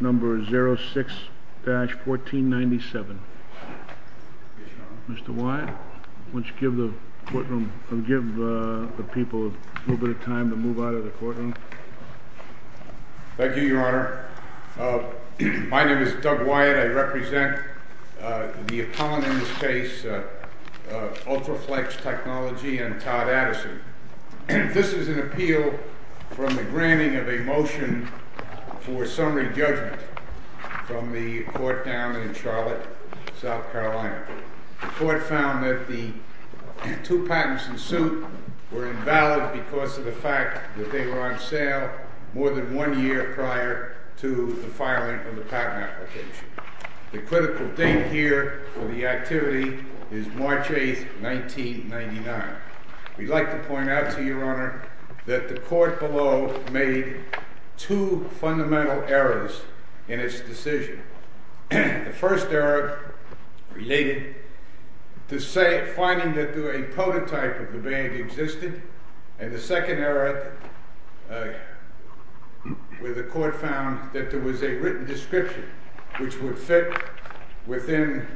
Number 06-1497. Mr. Wyatt, why don't you give the courtroom, give the people a little bit of time to move out of the courtroom. Thank you, Your Honor. My name is Doug Wyatt. I represent the opponent in this case, Ultraflex Technology and Todd Addison. This is an appeal from the granting of a motion for summary judgment from the court down in Charlotte, South Carolina. The court found that the two patents in suit were invalid because of the fact that they were on sale more than one year prior to the filing of the patent application. The critical date here for the activity is March 8, 1999. We'd like to point out to you, Your Honor, that the court below made two fundamental errors in its decision. The first error related to finding that a prototype of the band existed. And the second error where the court found that there was a written description which would fit within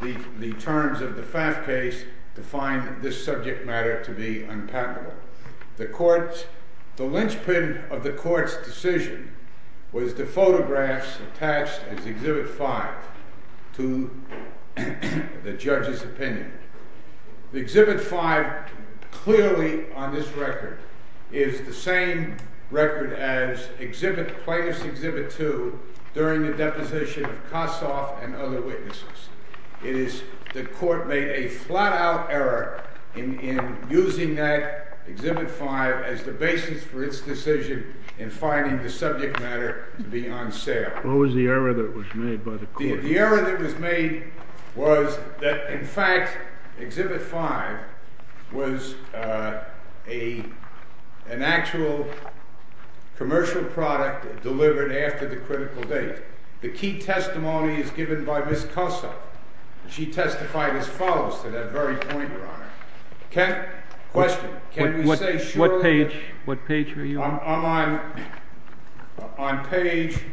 the terms of the FAF case to find this subject matter to be unpatentable. The lynchpin of the court's decision was the photographs attached as Exhibit 5 to the judge's opinion. Exhibit 5 clearly on this record is the same record as plaintiff's Exhibit 2 during the deposition of Kossoff and other witnesses. It is the court made a flat-out error in using that Exhibit 5 as the basis for its decision in finding the subject matter to be on sale. What was the error that was made by the court? The error that was made was that, in fact, Exhibit 5 was an actual commercial product delivered after the critical date. The key testimony is given by Ms. Kossoff. She testified as follows to that very point, Your Honor. Question. Can you say surely? What page? What page were you on? I'm on page—excuse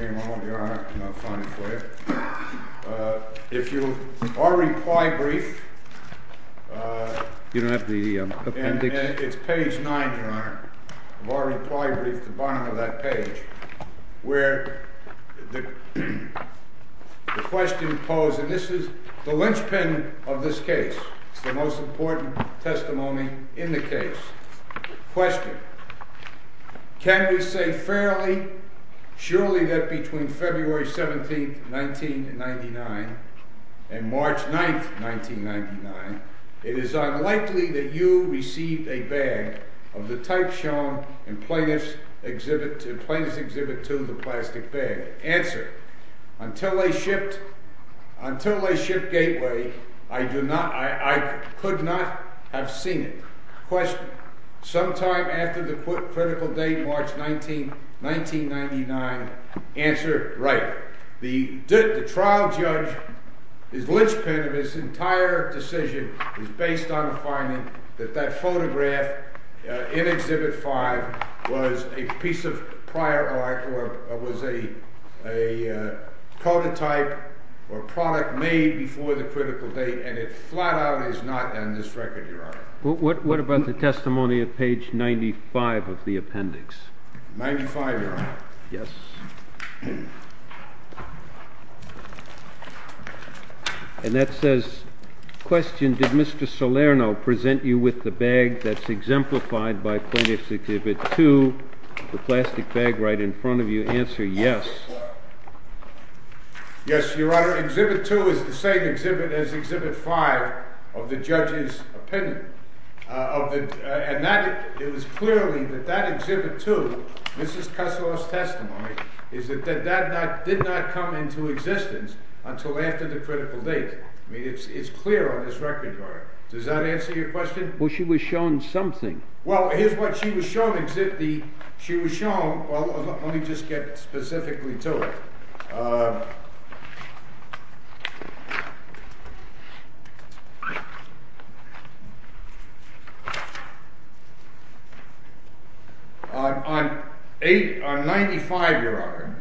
me a moment, Your Honor, and I'll find it for you. If you—our reply brief— You don't have the appendix? It's page 9, Your Honor, of our reply brief, the bottom of that page, where the question posed—and this is the lynchpin of this case. It's the most important testimony in the case. Question. Can we say fairly, surely, that between February 17, 1999, and March 9, 1999, it is unlikely that you received a bag of the type shown in Plaintiff's Exhibit 2, the plastic bag? Answer. Until they shipped Gateway, I could not have seen it. Question. Sometime after the critical date, March 19, 1999. Answer. Right. The trial judge's lynchpin of this entire decision is based on the finding that that photograph in Exhibit 5 was a piece of prior art or was a prototype or product made before the critical date, and it flat out is not on this record, Your Honor. What about the testimony of page 95 of the appendix? 95, Your Honor. Yes. And that says, question, did Mr. Salerno present you with the bag that's exemplified by Plaintiff's Exhibit 2, the plastic bag right in front of you? Answer yes. Yes, Your Honor. Exhibit 2 is the same exhibit as Exhibit 5 of the judge's opinion, and it was clearly that that Exhibit 2, Mrs. Kusloff's testimony, is that that did not come into existence until after the critical date. I mean, it's clear on this record, Your Honor. Does that answer your question? Well, she was shown something. Well, here's what she was shown. She was shown—well, let me just get specifically to it. On 95, Your Honor,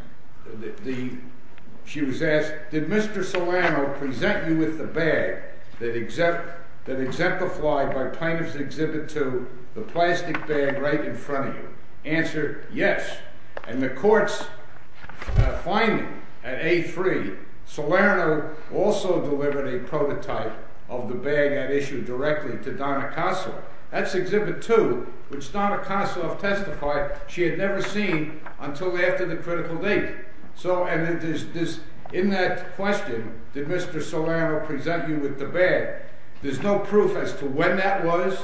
she was asked, did Mr. Salerno present you with the bag that exemplified by Plaintiff's Exhibit 2, the plastic bag right in front of you? Answer yes. And the court's finding at A3, Salerno also delivered a prototype of the bag at issue directly to Donna Kusloff. That's Exhibit 2, which Donna Kusloff testified she had never seen until after the critical date. And in that question, did Mr. Salerno present you with the bag, there's no proof as to when that was.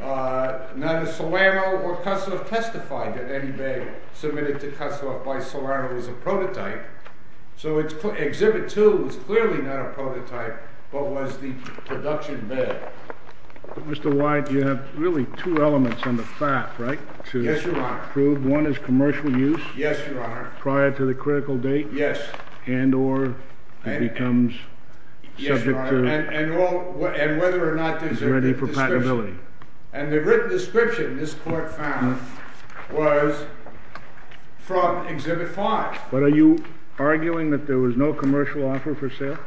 Neither Salerno or Kusloff testified that any bag submitted to Kusloff by Salerno was a prototype. So Exhibit 2 was clearly not a prototype, but was the production bag. Mr. White, you have really two elements on the fact, right? Yes, Your Honor. To prove one is commercial use. Yes, Your Honor. Prior to the critical date. Yes. And or it becomes subject to— Yes, Your Honor. And whether or not there's a— It's ready for patentability. And the written description this court found was from Exhibit 5. But are you arguing that there was no commercial offer for sale?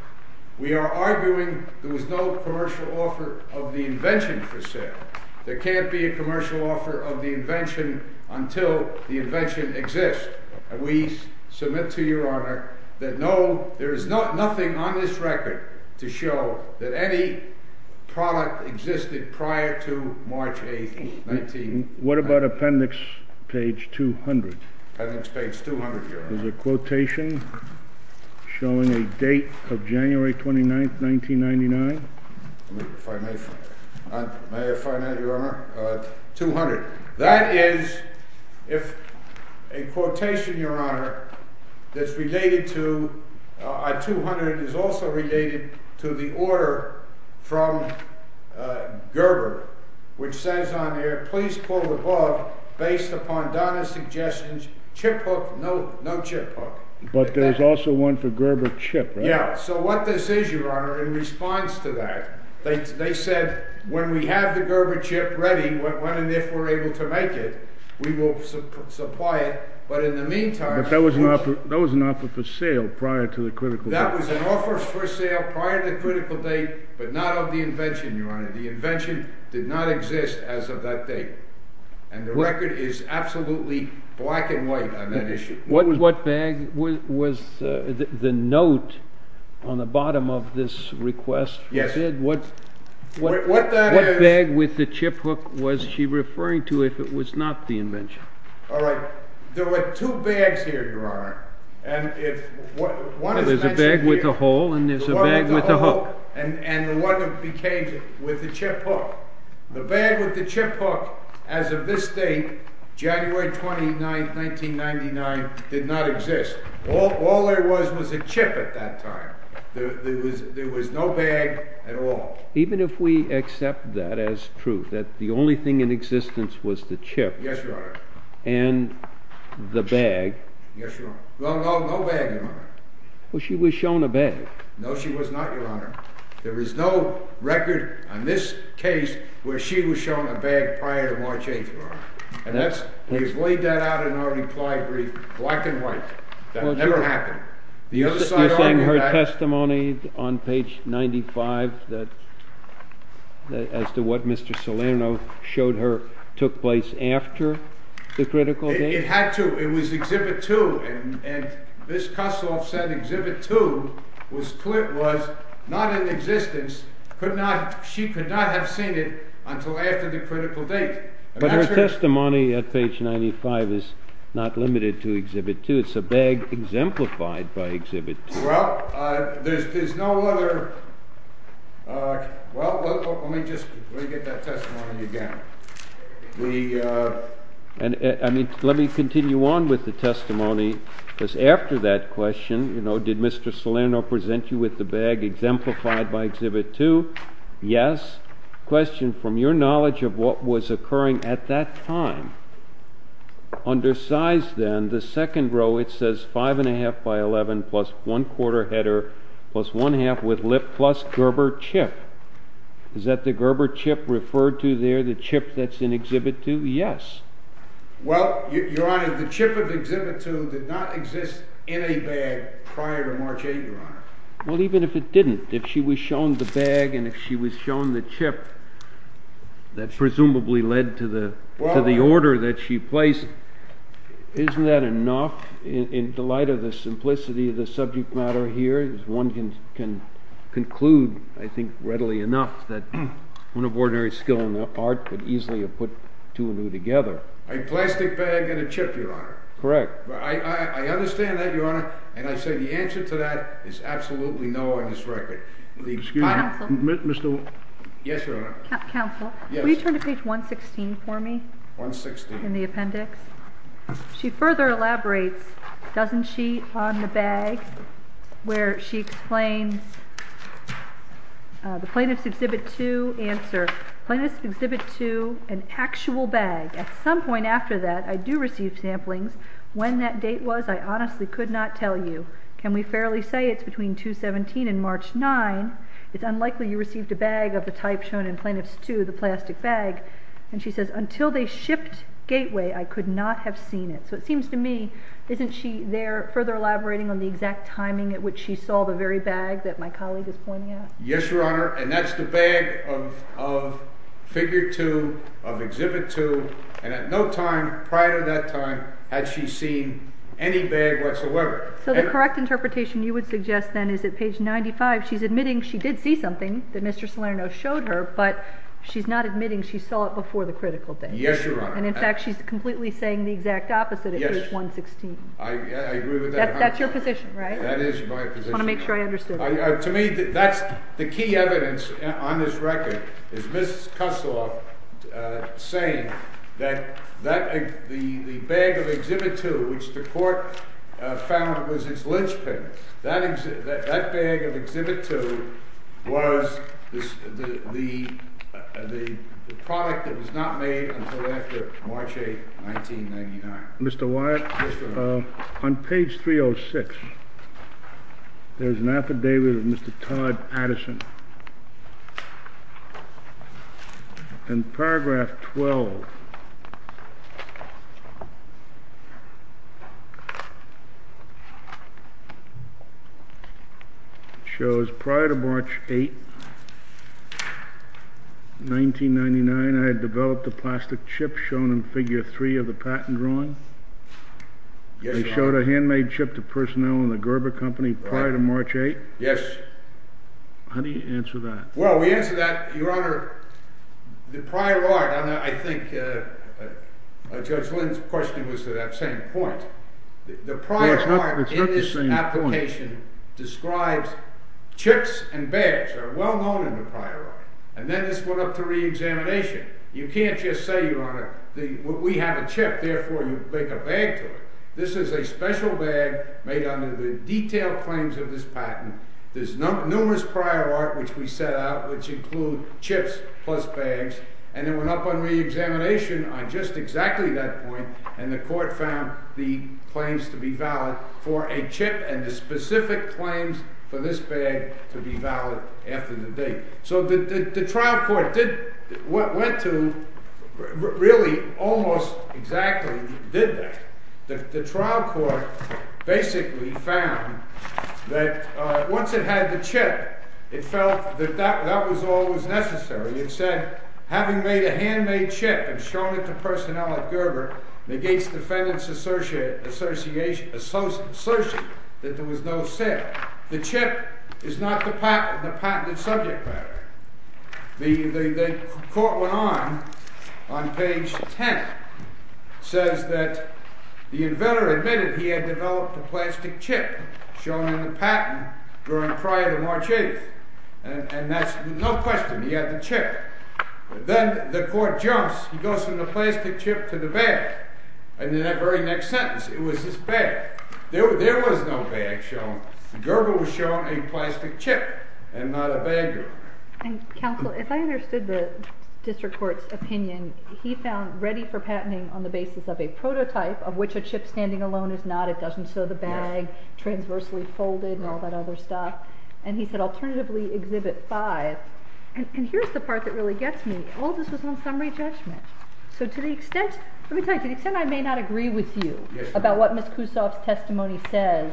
We are arguing there was no commercial offer of the invention for sale. There can't be a commercial offer of the invention until the invention exists. We submit to Your Honor that no, there is nothing on this record to show that any product existed prior to March 8th, 19— What about Appendix Page 200? Appendix Page 200, Your Honor. There's a quotation showing a date of January 29th, 1999. May I find that, Your Honor? 200. That is, if a quotation, Your Honor, that's related to—200 is also related to the order from Gerber, which says on there, please pull the plug based upon Donna's suggestions, chip hook, no chip hook. But there's also one for Gerber chip, right? Yeah, so what this is, Your Honor, in response to that, they said when we have the Gerber chip ready, and if we're able to make it, we will supply it, but in the meantime— But that was an offer for sale prior to the critical date. That was an offer for sale prior to the critical date, but not of the invention, Your Honor. The invention did not exist as of that date. And the record is absolutely black and white on that issue. What bag was the note on the bottom of this request? Yes. What bag with the chip hook was she referring to if it was not the invention? All right. There were two bags here, Your Honor. There's a bag with a hole, and there's a bag with a hook. And the one that became with the chip hook. The bag with the chip hook, as of this date, January 29th, 1999, did not exist. All there was was a chip at that time. There was no bag at all. Even if we accept that as truth, that the only thing in existence was the chip— Yes, Your Honor. —and the bag— Yes, Your Honor. Well, no bag, Your Honor. Well, she was shown a bag. No, she was not, Your Honor. There is no record on this case where she was shown a bag prior to March 8th, Your Honor. And that's—you've laid that out in our reply brief, black and white. That never happened. You're saying her testimony on page 95, as to what Mr. Salerno showed her, took place after the critical date? It had to. It was Exhibit 2. And Ms. Kusloff said Exhibit 2 was not in existence. She could not have seen it until after the critical date. But her testimony at page 95 is not limited to Exhibit 2. It's a bag exemplified by Exhibit 2. Well, there's no other—well, let me just—let me get that testimony again. Let me continue on with the testimony, because after that question, you know, did Mr. Salerno present you with the bag exemplified by Exhibit 2? Yes. Question, from your knowledge of what was occurring at that time, under size, then, the second row, it says 5 1⁄2 by 11 plus 1 quarter header plus 1 half with lip plus Gerber chip. Is that the Gerber chip referred to there, the chip that's in Exhibit 2? Yes. Well, Your Honor, the chip of Exhibit 2 did not exist in a bag prior to March 8th, Your Honor. Well, even if it didn't, if she was shown the bag and if she was shown the chip, that presumably led to the order that she placed, isn't that enough? In the light of the simplicity of the subject matter here, one can conclude, I think, readily enough that one of ordinary skill in art could easily have put two and two together. A plastic bag and a chip, Your Honor. Correct. I understand that, Your Honor, and I say the answer to that is absolutely no on this record. Counsel? Yes, Your Honor. Counsel? Yes. Will you turn to page 116 for me? 116. In the appendix. She further elaborates, doesn't she, on the bag, where she explains the plaintiff's Exhibit 2 answer, plaintiff's Exhibit 2, an actual bag. At some point after that, I do receive samplings. When that date was, I honestly could not tell you. Can we fairly say it's between 217 and March 9? It's unlikely you received a bag of the type shown in Plaintiff's 2, the plastic bag. And she says, until they shipped Gateway, I could not have seen it. So it seems to me, isn't she there further elaborating on the exact timing at which she saw the very bag that my colleague is pointing at? Yes, Your Honor, and that's the bag of Figure 2, of Exhibit 2, and at no time prior to that time had she seen any bag whatsoever. So the correct interpretation you would suggest, then, is at page 95, she's admitting she did see something that Mr. Salerno showed her, but she's not admitting she saw it before the critical date. Yes, Your Honor. And in fact, she's completely saying the exact opposite at page 116. Yes, I agree with that 100%. That's your position, right? That is my position. I want to make sure I understood. To me, that's the key evidence on this record, is Ms. Kusloff saying that the bag of Exhibit 2, which the court found was its linchpin, that bag of Exhibit 2 was the product that was not made until after March 8, 1999. Mr. Wyatt? Yes, Your Honor. On page 306, there's an affidavit of Mr. Todd Addison. In paragraph 12, it shows prior to March 8, 1999, I had developed a plastic chip shown in figure 3 of the patent drawing. Yes, Your Honor. They showed a handmade chip to personnel in the Gerber Company prior to March 8. Yes. How do you answer that? Well, we answer that, Your Honor, the prior art, and I think Judge Lynn's question was to that same point. The prior art in this application describes chips and bags are well known in the prior art. And then this went up to reexamination. You can't just say, Your Honor, we have a chip, therefore you make a bag to it. This is a special bag made under the detailed claims of this patent. There's numerous prior art, which we set out, which include chips plus bags, and it went up on reexamination on just exactly that point, and the court found the claims to be valid for a chip and the specific claims for this bag to be valid after the date. So the trial court did what went to really almost exactly did that. The trial court basically found that once it had the chip, it felt that that was all that was necessary. It said, having made a handmade chip and shown it to personnel at Gerber negates defendant's assertion that there was no sin. The chip is not the patented subject matter. The court went on, on page 10, says that the inventor admitted he had developed a plastic chip shown in the patent prior to March 8th, and that's no question, he had the chip. Then the court jumps, he goes from the plastic chip to the bag, and in that very next sentence, it was this bag. There was no bag shown. Gerber was shown a plastic chip and not a bag. Counsel, if I understood the district court's opinion, he found ready for patenting on the basis of a prototype, of which a chip standing alone is not, it doesn't show the bag, transversely folded and all that other stuff, and he said alternatively exhibit five, and here's the part that really gets me. All this was on summary judgment. So to the extent, let me tell you, to the extent I may not agree with you about what Ms. Kussoff's testimony says,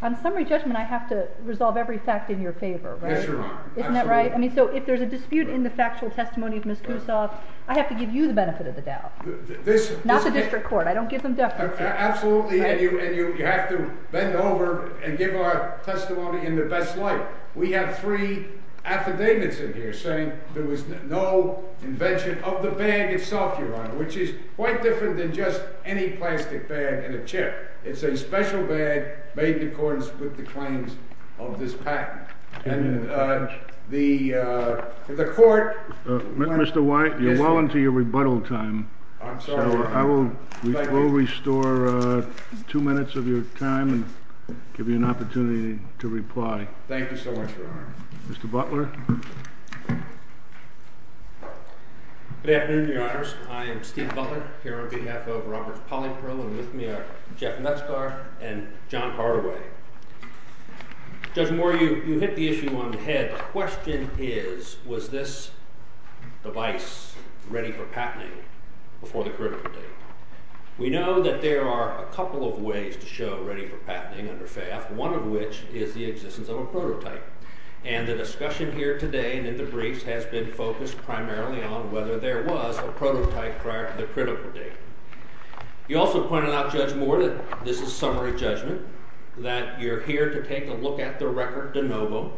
on summary judgment, I have to resolve every fact in your favor, right? Yes, Your Honor. Isn't that right? I mean, so if there's a dispute in the factual testimony of Ms. Kussoff, I have to give you the benefit of the doubt, not the district court. I don't give them deference. Absolutely, and you have to bend over and give our testimony in the best light. We have three affidavits in here saying there was no invention of the bag itself, Your Honor, which is quite different than just any plastic bag and a chip. It's a special bag made in accordance with the claims of this patent. And the court... Mr. White, you're well into your rebuttal time. I'm sorry. So I will restore two minutes of your time and give you an opportunity to reply. Thank you so much, Your Honor. Mr. Butler? Good afternoon, Your Honors. I am Steve Butler, here on behalf of Robert Polleypro and with me are Jeff Metzgar and John Hardaway. Judge Moore, you hit the issue on the head. The question is, was this device ready for patenting before the critical date? We know that there are a couple of ways to show ready for patenting under FAF, one of which is the existence of a prototype. And the discussion here today and in the briefs has been focused primarily on whether there was a prototype prior to the critical date. You also pointed out, Judge Moore, that this is summary judgment, that you're here to take a look at the record de novo.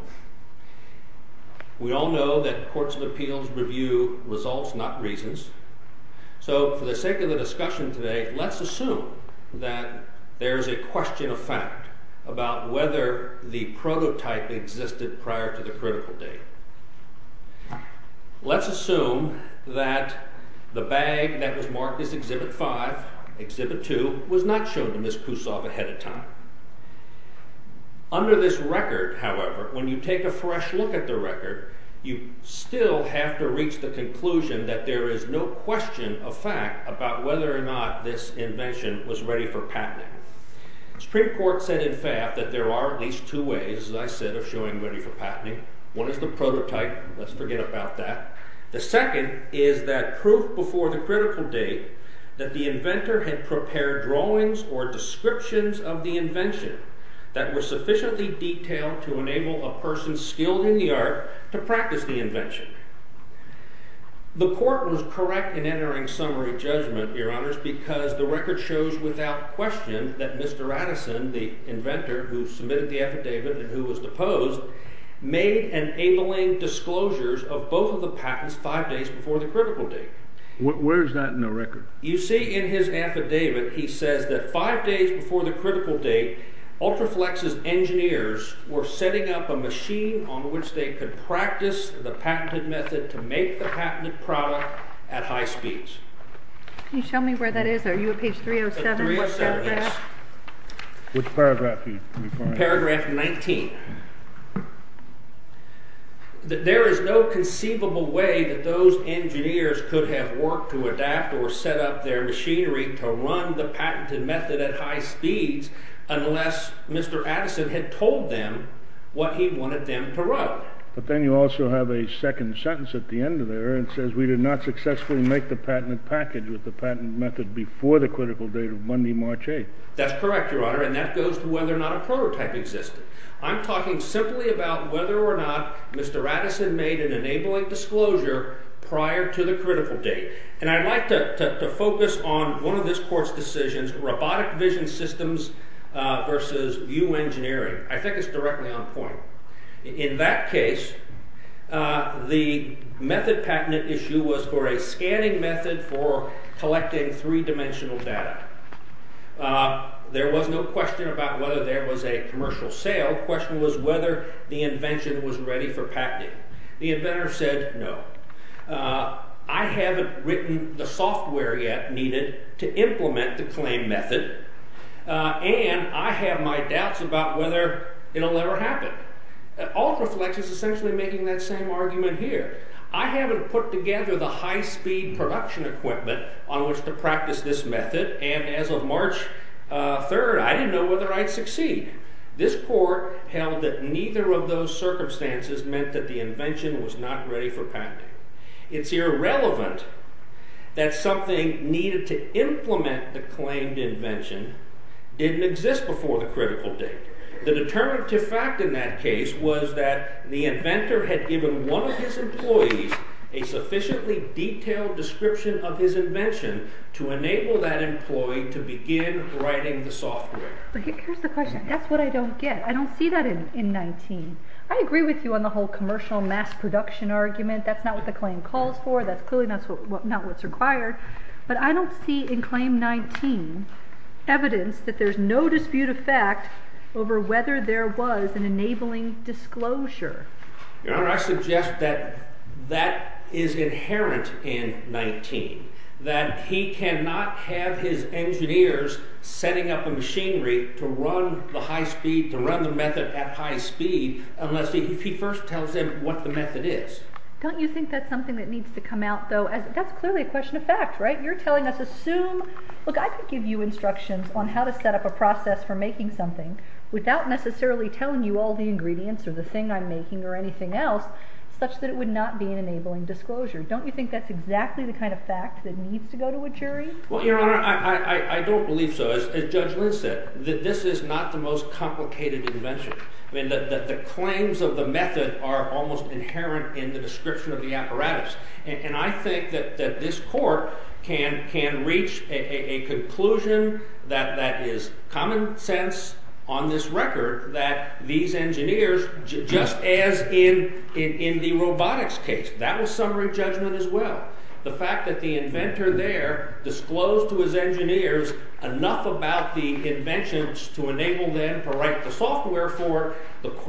We all know that courts of appeals review results, not reasons. So for the sake of the discussion today, let's assume that there is a question of fact about whether the prototype existed prior to the critical date. Let's assume that the bag that was marked as Exhibit 5, Exhibit 2, was not shown to Ms. Kusoff ahead of time. Under this record, however, when you take a fresh look at the record, you still have to reach the conclusion that there is no question of fact about whether or not this invention was ready for patenting. The Supreme Court said in FAF that there are at least two ways, as I said, of showing ready for patenting. One is the prototype, let's forget about that. The second is that proof before the critical date that the inventor had prepared drawings or descriptions of the invention that were sufficiently detailed to enable a person skilled in the art to practice the invention. The court was correct in entering summary judgment, Your Honors, because the record shows without question that Mr. Addison, the inventor who submitted the affidavit and who was deposed, made enabling disclosures of both of the patents five days before the critical date. Where is that in the record? You see in his affidavit, he says that five days before the critical date, Ultraflex's engineers were setting up a machine on which they could practice the patented method to make the patented product at high speeds. Can you show me where that is? Are you at page 307? Which paragraph are you referring to? Paragraph 19. There is no conceivable way that those engineers could have worked to adapt or set up their machinery to run the patented method at high speeds unless Mr. Addison had told them what he wanted them to run. But then you also have a second sentence at the end of there, where it says we did not successfully make the patented package with the patented method before the critical date of Monday, March 8th. That's correct, Your Honor, and that goes to whether or not a prototype existed. I'm talking simply about whether or not Mr. Addison made an enabling disclosure prior to the critical date. And I'd like to focus on one of this court's decisions, robotic vision systems versus view engineering. I think it's directly on point. In that case, the method patent issue was for a scanning method for collecting three-dimensional data. There was no question about whether there was a commercial sale. The question was whether the invention was ready for patenting. The inventor said no. I haven't written the software yet needed to implement the claim method, and I have my doubts about whether it'll ever happen. Altreflex is essentially making that same argument here. I haven't put together the high-speed production equipment on which to practice this method, and as of March 3rd, I didn't know whether I'd succeed. This court held that neither of those circumstances meant that the invention was not ready for patenting. It's irrelevant that something needed to implement the claimed invention didn't exist before the critical date. The determinative fact in that case was that the inventor had given one of his employees a sufficiently detailed description of his invention to enable that employee to begin writing the software. Here's the question. That's what I don't get. I don't see that in 19. I agree with you on the whole commercial mass production argument. That's not what the claim calls for. That's clearly not what's required. But I don't see in Claim 19 evidence that there's no dispute of fact over whether there was an enabling disclosure. Your Honor, I suggest that that is inherent in 19, that he cannot have his engineers setting up the machinery to run the method at high speed unless he first tells them what the method is. Don't you think that's something that needs to come out, though? That's clearly a question of fact, right? You're telling us, assume... Look, I could give you instructions on how to set up a process for making something without necessarily telling you all the ingredients or the thing I'm making or anything else such that it would not be an enabling disclosure. Don't you think that's exactly the kind of fact that needs to go to a jury? Well, Your Honor, I don't believe so. As Judge Lynn said, this is not the most complicated invention. The claims of the method are almost inherent in the description of the apparatus. And I think that this Court can reach a conclusion that is common sense on this record that these engineers, just as in the robotics case, that was summary judgment as well. The fact that the inventor there disclosed to his engineers enough about the inventions to enable them to write the software for,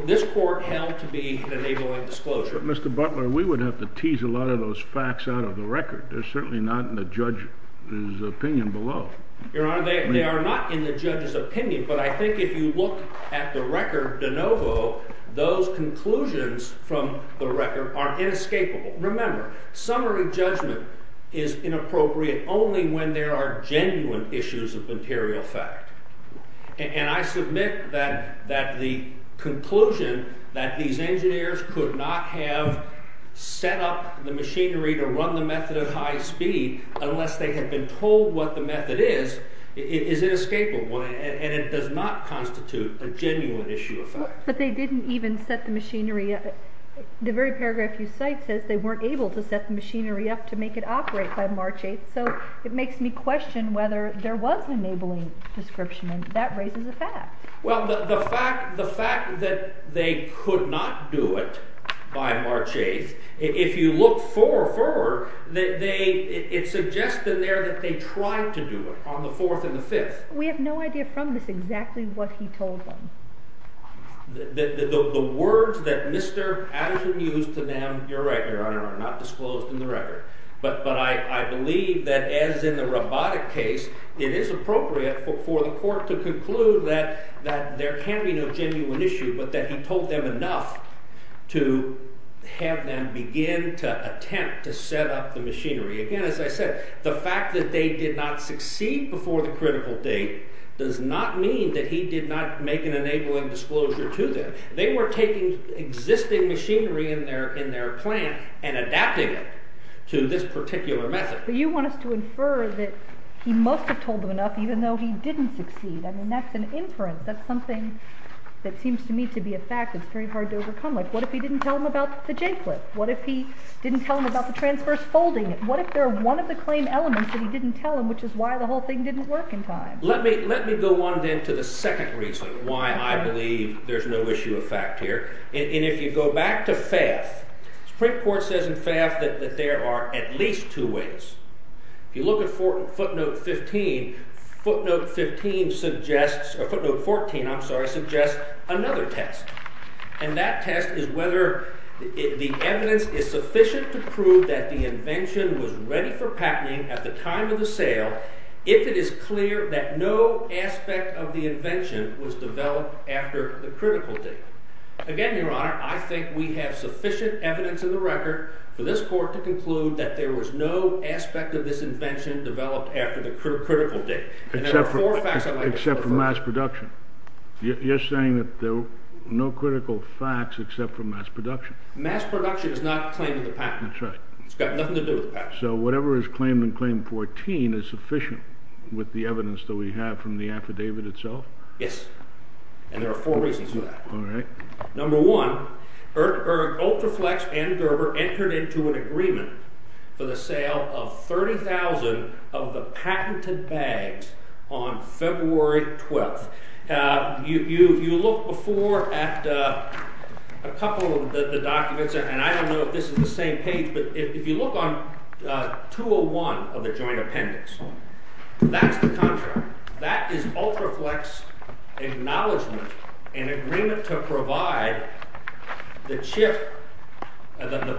this Court held to be an enabling disclosure. But, Mr. Butler, we would have to tease a lot of those facts out of the record. They're certainly not in the judge's opinion below. Your Honor, they are not in the judge's opinion, but I think if you look at the record de novo, those conclusions from the record are inescapable. Remember, summary judgment is inappropriate only when there are genuine issues of material fact. And I submit that the conclusion that these engineers could not have set up the machinery to run the method at high speed unless they had been told what the method is, is inescapable, and it does not constitute a genuine issue of fact. But they didn't even set the machinery up. The very paragraph you cite says they weren't able to set the machinery up to make it operate by March 8th, so it makes me question whether there was an enabling description, and that raises a fact. Well, the fact that they could not do it by March 8th, if you look forward, it suggests in there that they tried to do it on the 4th and the 5th. We have no idea from this exactly what he told them. The words that Mr. Addison used to them, you're right, Your Honor, are not disclosed in the record. But I believe that as in the robotic case, it is appropriate for the court to conclude that there can be no genuine issue, but that he told them enough to have them begin to attempt to set up the machinery. Again, as I said, the fact that they did not succeed before the critical date does not mean that he did not make an enabling disclosure to them. They were taking existing machinery in their plant and adapting it to this particular method. But you want us to infer that he must have told them enough even though he didn't succeed. I mean, that's an inference. That's something that seems to me to be a fact that's very hard to overcome. Like, what if he didn't tell them about the J-clip? What if he didn't tell them about the transverse folding? What if they're one of the claim elements that he didn't tell them, which is why the whole thing didn't work in time? Let me go on, then, to the second reason why I believe there's no issue of fact here. And if you go back to Pfaff, Supreme Court says in Pfaff that there are at least two ways. If you look at footnote 14, it suggests another test. And that test is whether the evidence is sufficient to prove that the invention was ready for patenting at the time of the sale if it is clear that no aspect of the invention was developed after the critical date. Again, Your Honor, I think we have sufficient evidence in the record for this court to conclude that there was no aspect of this invention developed after the critical date. Except for mass production. You're saying that there were no critical facts except for mass production. Mass production is not a claim to the patent. That's right. It's got nothing to do with the patent. So whatever is claimed in claim 14 is sufficient with the evidence that we have from the affidavit itself? Yes. And there are four reasons for that. All right. Number one, Ultraflex and Gerber entered into an agreement for the sale of 30,000 of the patented bags on February 12th. If you look before at a couple of the documents, and I don't know if this is the same page, but if you look on 201 of the joint appendix, that's the contract. That is Ultraflex acknowledgment in agreement to provide the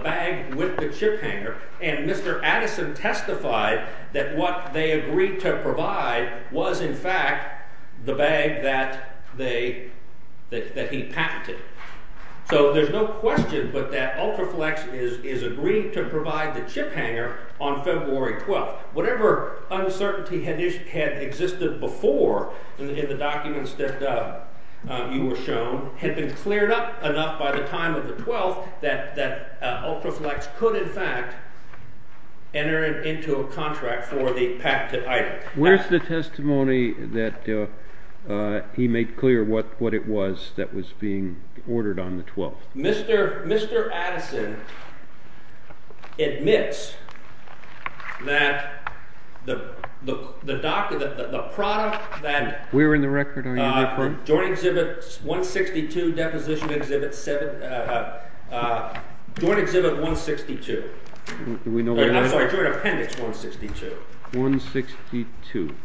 bag with the chip hanger. And Mr. Addison testified that what they agreed to provide was, in fact, the bag that he patented. So there's no question but that Ultraflex is agreeing to provide the chip hanger on February 12th. Whatever uncertainty had existed before in the documents that you were shown had been cleared up enough by the time of the 12th that Ultraflex could, in fact, enter into a contract for the patented item. Where's the testimony that he made clear what it was that was being ordered on the 12th? Mr. Addison admits that the product that— We're in the record. Are you in the record? —Joint Exhibit 162, Deposition Exhibit 7—Joint Exhibit 162. I'm sorry, Joint Appendix 162. 162.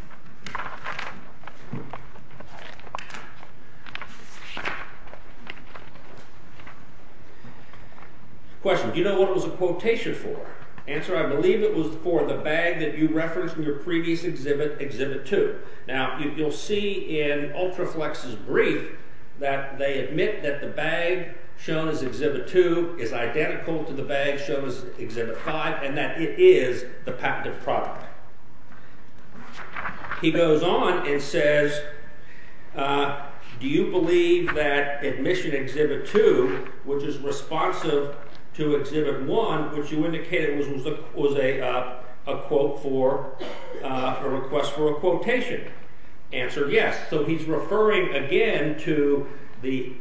Question, do you know what it was a quotation for? Answer, I believe it was for the bag that you referenced in your previous exhibit, Exhibit 2. Now, you'll see in Ultraflex's brief that they admit that the bag shown as Exhibit 2 is identical to the bag shown as Exhibit 5 and that it is the patented product. He goes on and says, do you believe that Admission Exhibit 2, which is responsive to Exhibit 1, which you indicated was a request for a quotation? Answer, yes. So he's referring again to the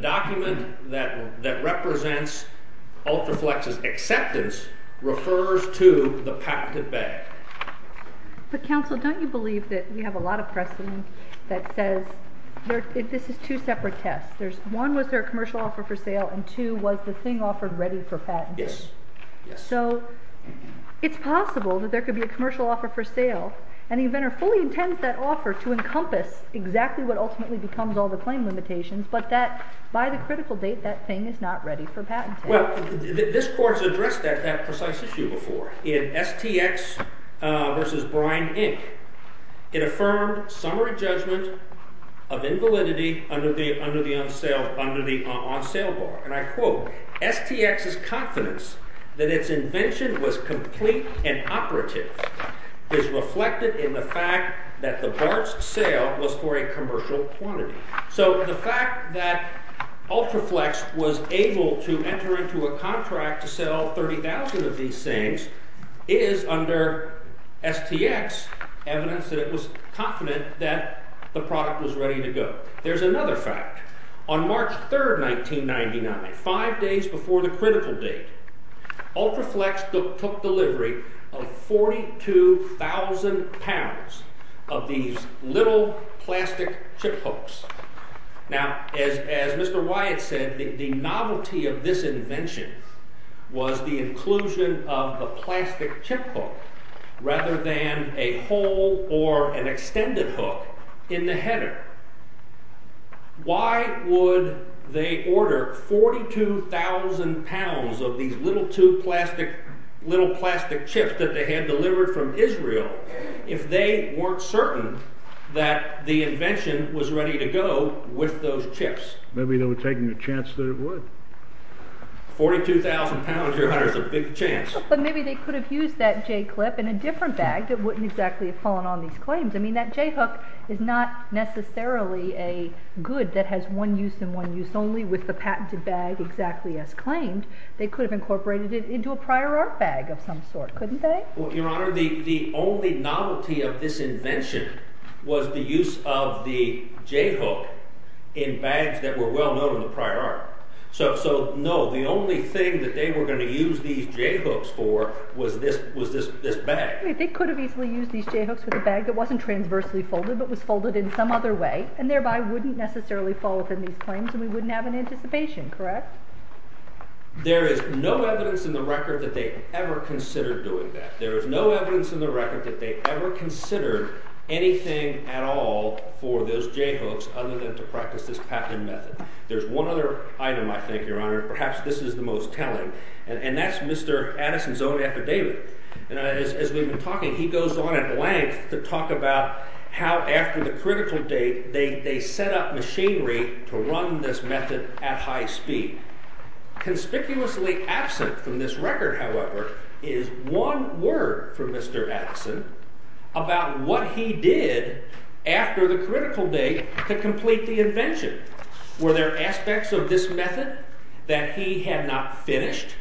document that represents Ultraflex's acceptance refers to the patented bag. But, counsel, don't you believe that we have a lot of precedent that says—this is two separate tests. One, was there a commercial offer for sale, and two, was the thing offered ready for patent? Yes. So it's possible that there could be a commercial offer for sale, and the inventor fully intends that offer to encompass exactly what ultimately becomes all the claim limitations, but that by the critical date, that thing is not ready for patent. Well, this Court has addressed that precise issue before. In STX v. Bryan, Inc., it affirmed summary judgment of invalidity under the on-sale bar. And I quote, STX's confidence that its invention was complete and operative is reflected in the fact that the BART's sale was for a commercial quantity. So the fact that Ultraflex was able to enter into a contract to sell 30,000 of these things is under STX's evidence that it was confident that the product was ready to go. There's another fact. On March 3, 1999, five days before the critical date, Ultraflex took delivery of 42,000 pounds of these little plastic chip hooks. Now, as Mr. Wyatt said, the novelty of this invention was the inclusion of the plastic chip hook rather than a whole or an extended hook in the header. Why would they order 42,000 pounds of these little tube plastic chips that they had delivered from Israel if they weren't certain that the invention was ready to go with those chips? Maybe they were taking a chance that it would. 42,000 pounds, Your Honor, is a big chance. But maybe they could have used that J-clip in a different bag that wouldn't exactly have fallen on these claims. I mean, that J-hook is not necessarily a good that has one use and one use only with the patented bag exactly as claimed. They could have incorporated it into a prior art bag of some sort, couldn't they? Well, Your Honor, the only novelty of this invention was the use of the J-hook in bags that were well known in the prior art. So, no, the only thing that they were going to use these J-hooks for was this bag. They could have easily used these J-hooks with a bag that wasn't transversely folded but was folded in some other way and thereby wouldn't necessarily fall within these claims and we wouldn't have an anticipation, correct? There is no evidence in the record that they ever considered doing that. There is no evidence in the record that they ever considered anything at all for those J-hooks other than to practice this patent method. There's one other item, I think, Your Honor, perhaps this is the most telling, and that's Mr. Addison's own epidemic. As we've been talking, he goes on at length to talk about how after the critical date they set up machinery to run this method at high speed. Conspicuously absent from this record, however, is one word from Mr. Addison about what he did after the critical date to complete the invention. Were there aspects of this method that he had not finished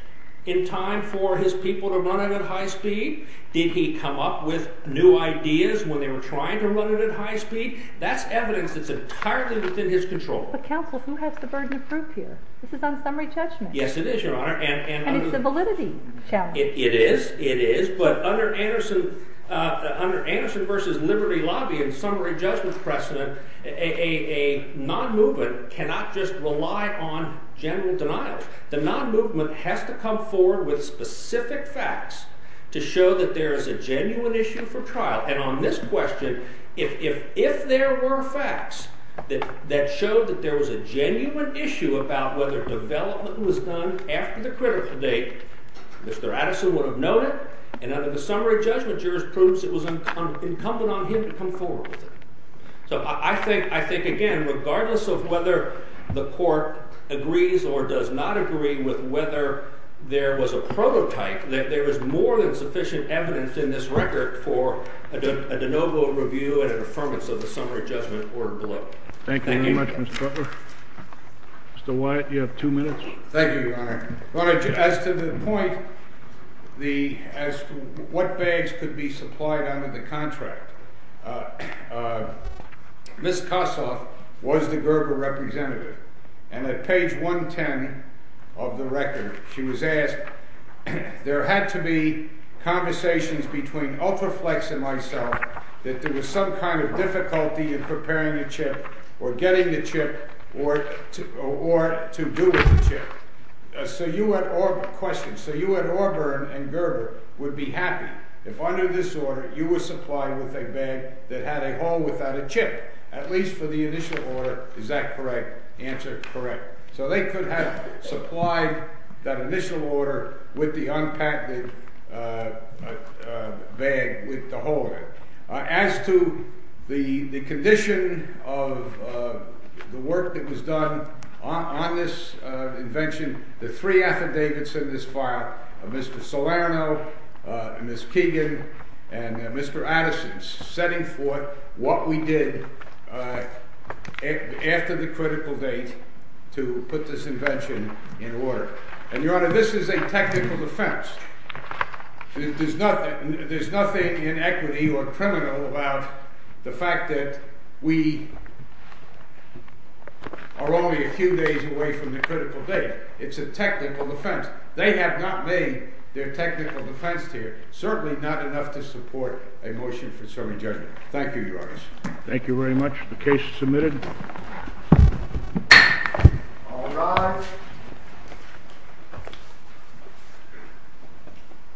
in time for his people to run it at high speed? Did he come up with new ideas when they were trying to run it at high speed? That's evidence that's entirely within his control. But counsel, who has the burden of proof here? This is unsummary judgment. Yes, it is, Your Honor. And it's a validity challenge. It is, it is, but under Anderson versus Liberty lobby and summary judgment precedent, a non-movement cannot just rely on general denials. The non-movement has to come forward with specific facts to show that there is a genuine issue for trial. And on this question, if there were facts that showed that there was a genuine issue about whether development was done after the critical date, Mr. Addison would have known it, and under the summary judgment jurors' proofs, it was incumbent on him to come forward with it. So I think, again, regardless of whether the court agrees or does not agree with whether there was a prototype, that there is more than sufficient evidence in this record for a de novo review and an affirmance of the summary judgment order below. Thank you very much, Mr. Butler. Mr. Wyatt, you have two minutes. Thank you, Your Honor. Your Honor, as to the point as to what bags could be supplied under the contract, Ms. Kossoff was the Gerber representative. And at page 110 of the record, she was asked, there had to be conversations between Ultraflex and myself that there was some kind of difficulty in preparing a chip or getting a chip or to do with a chip. So you at Auburn and Gerber would be happy if under this order you were supplied with a bag that had a hole without a chip, at least for the initial order. Is that correct? Answer, correct. So they could have supplied that initial order with the unpatented bag with the hole in it. As to the condition of the work that was done on this invention, the three affidavits in this file, Mr. Salerno, Ms. Keegan, and Mr. Addison, setting forth what we did after the critical date to put this invention in order. And, Your Honor, this is a technical offense. There's nothing inequity or criminal about the fact that we are only a few days away from the critical date. It's a technical offense. They have not made their technical defense here, certainly not enough to support a motion for serving judgment. Thank you, Your Honor. Thank you very much. The case is submitted. All rise. Thank you.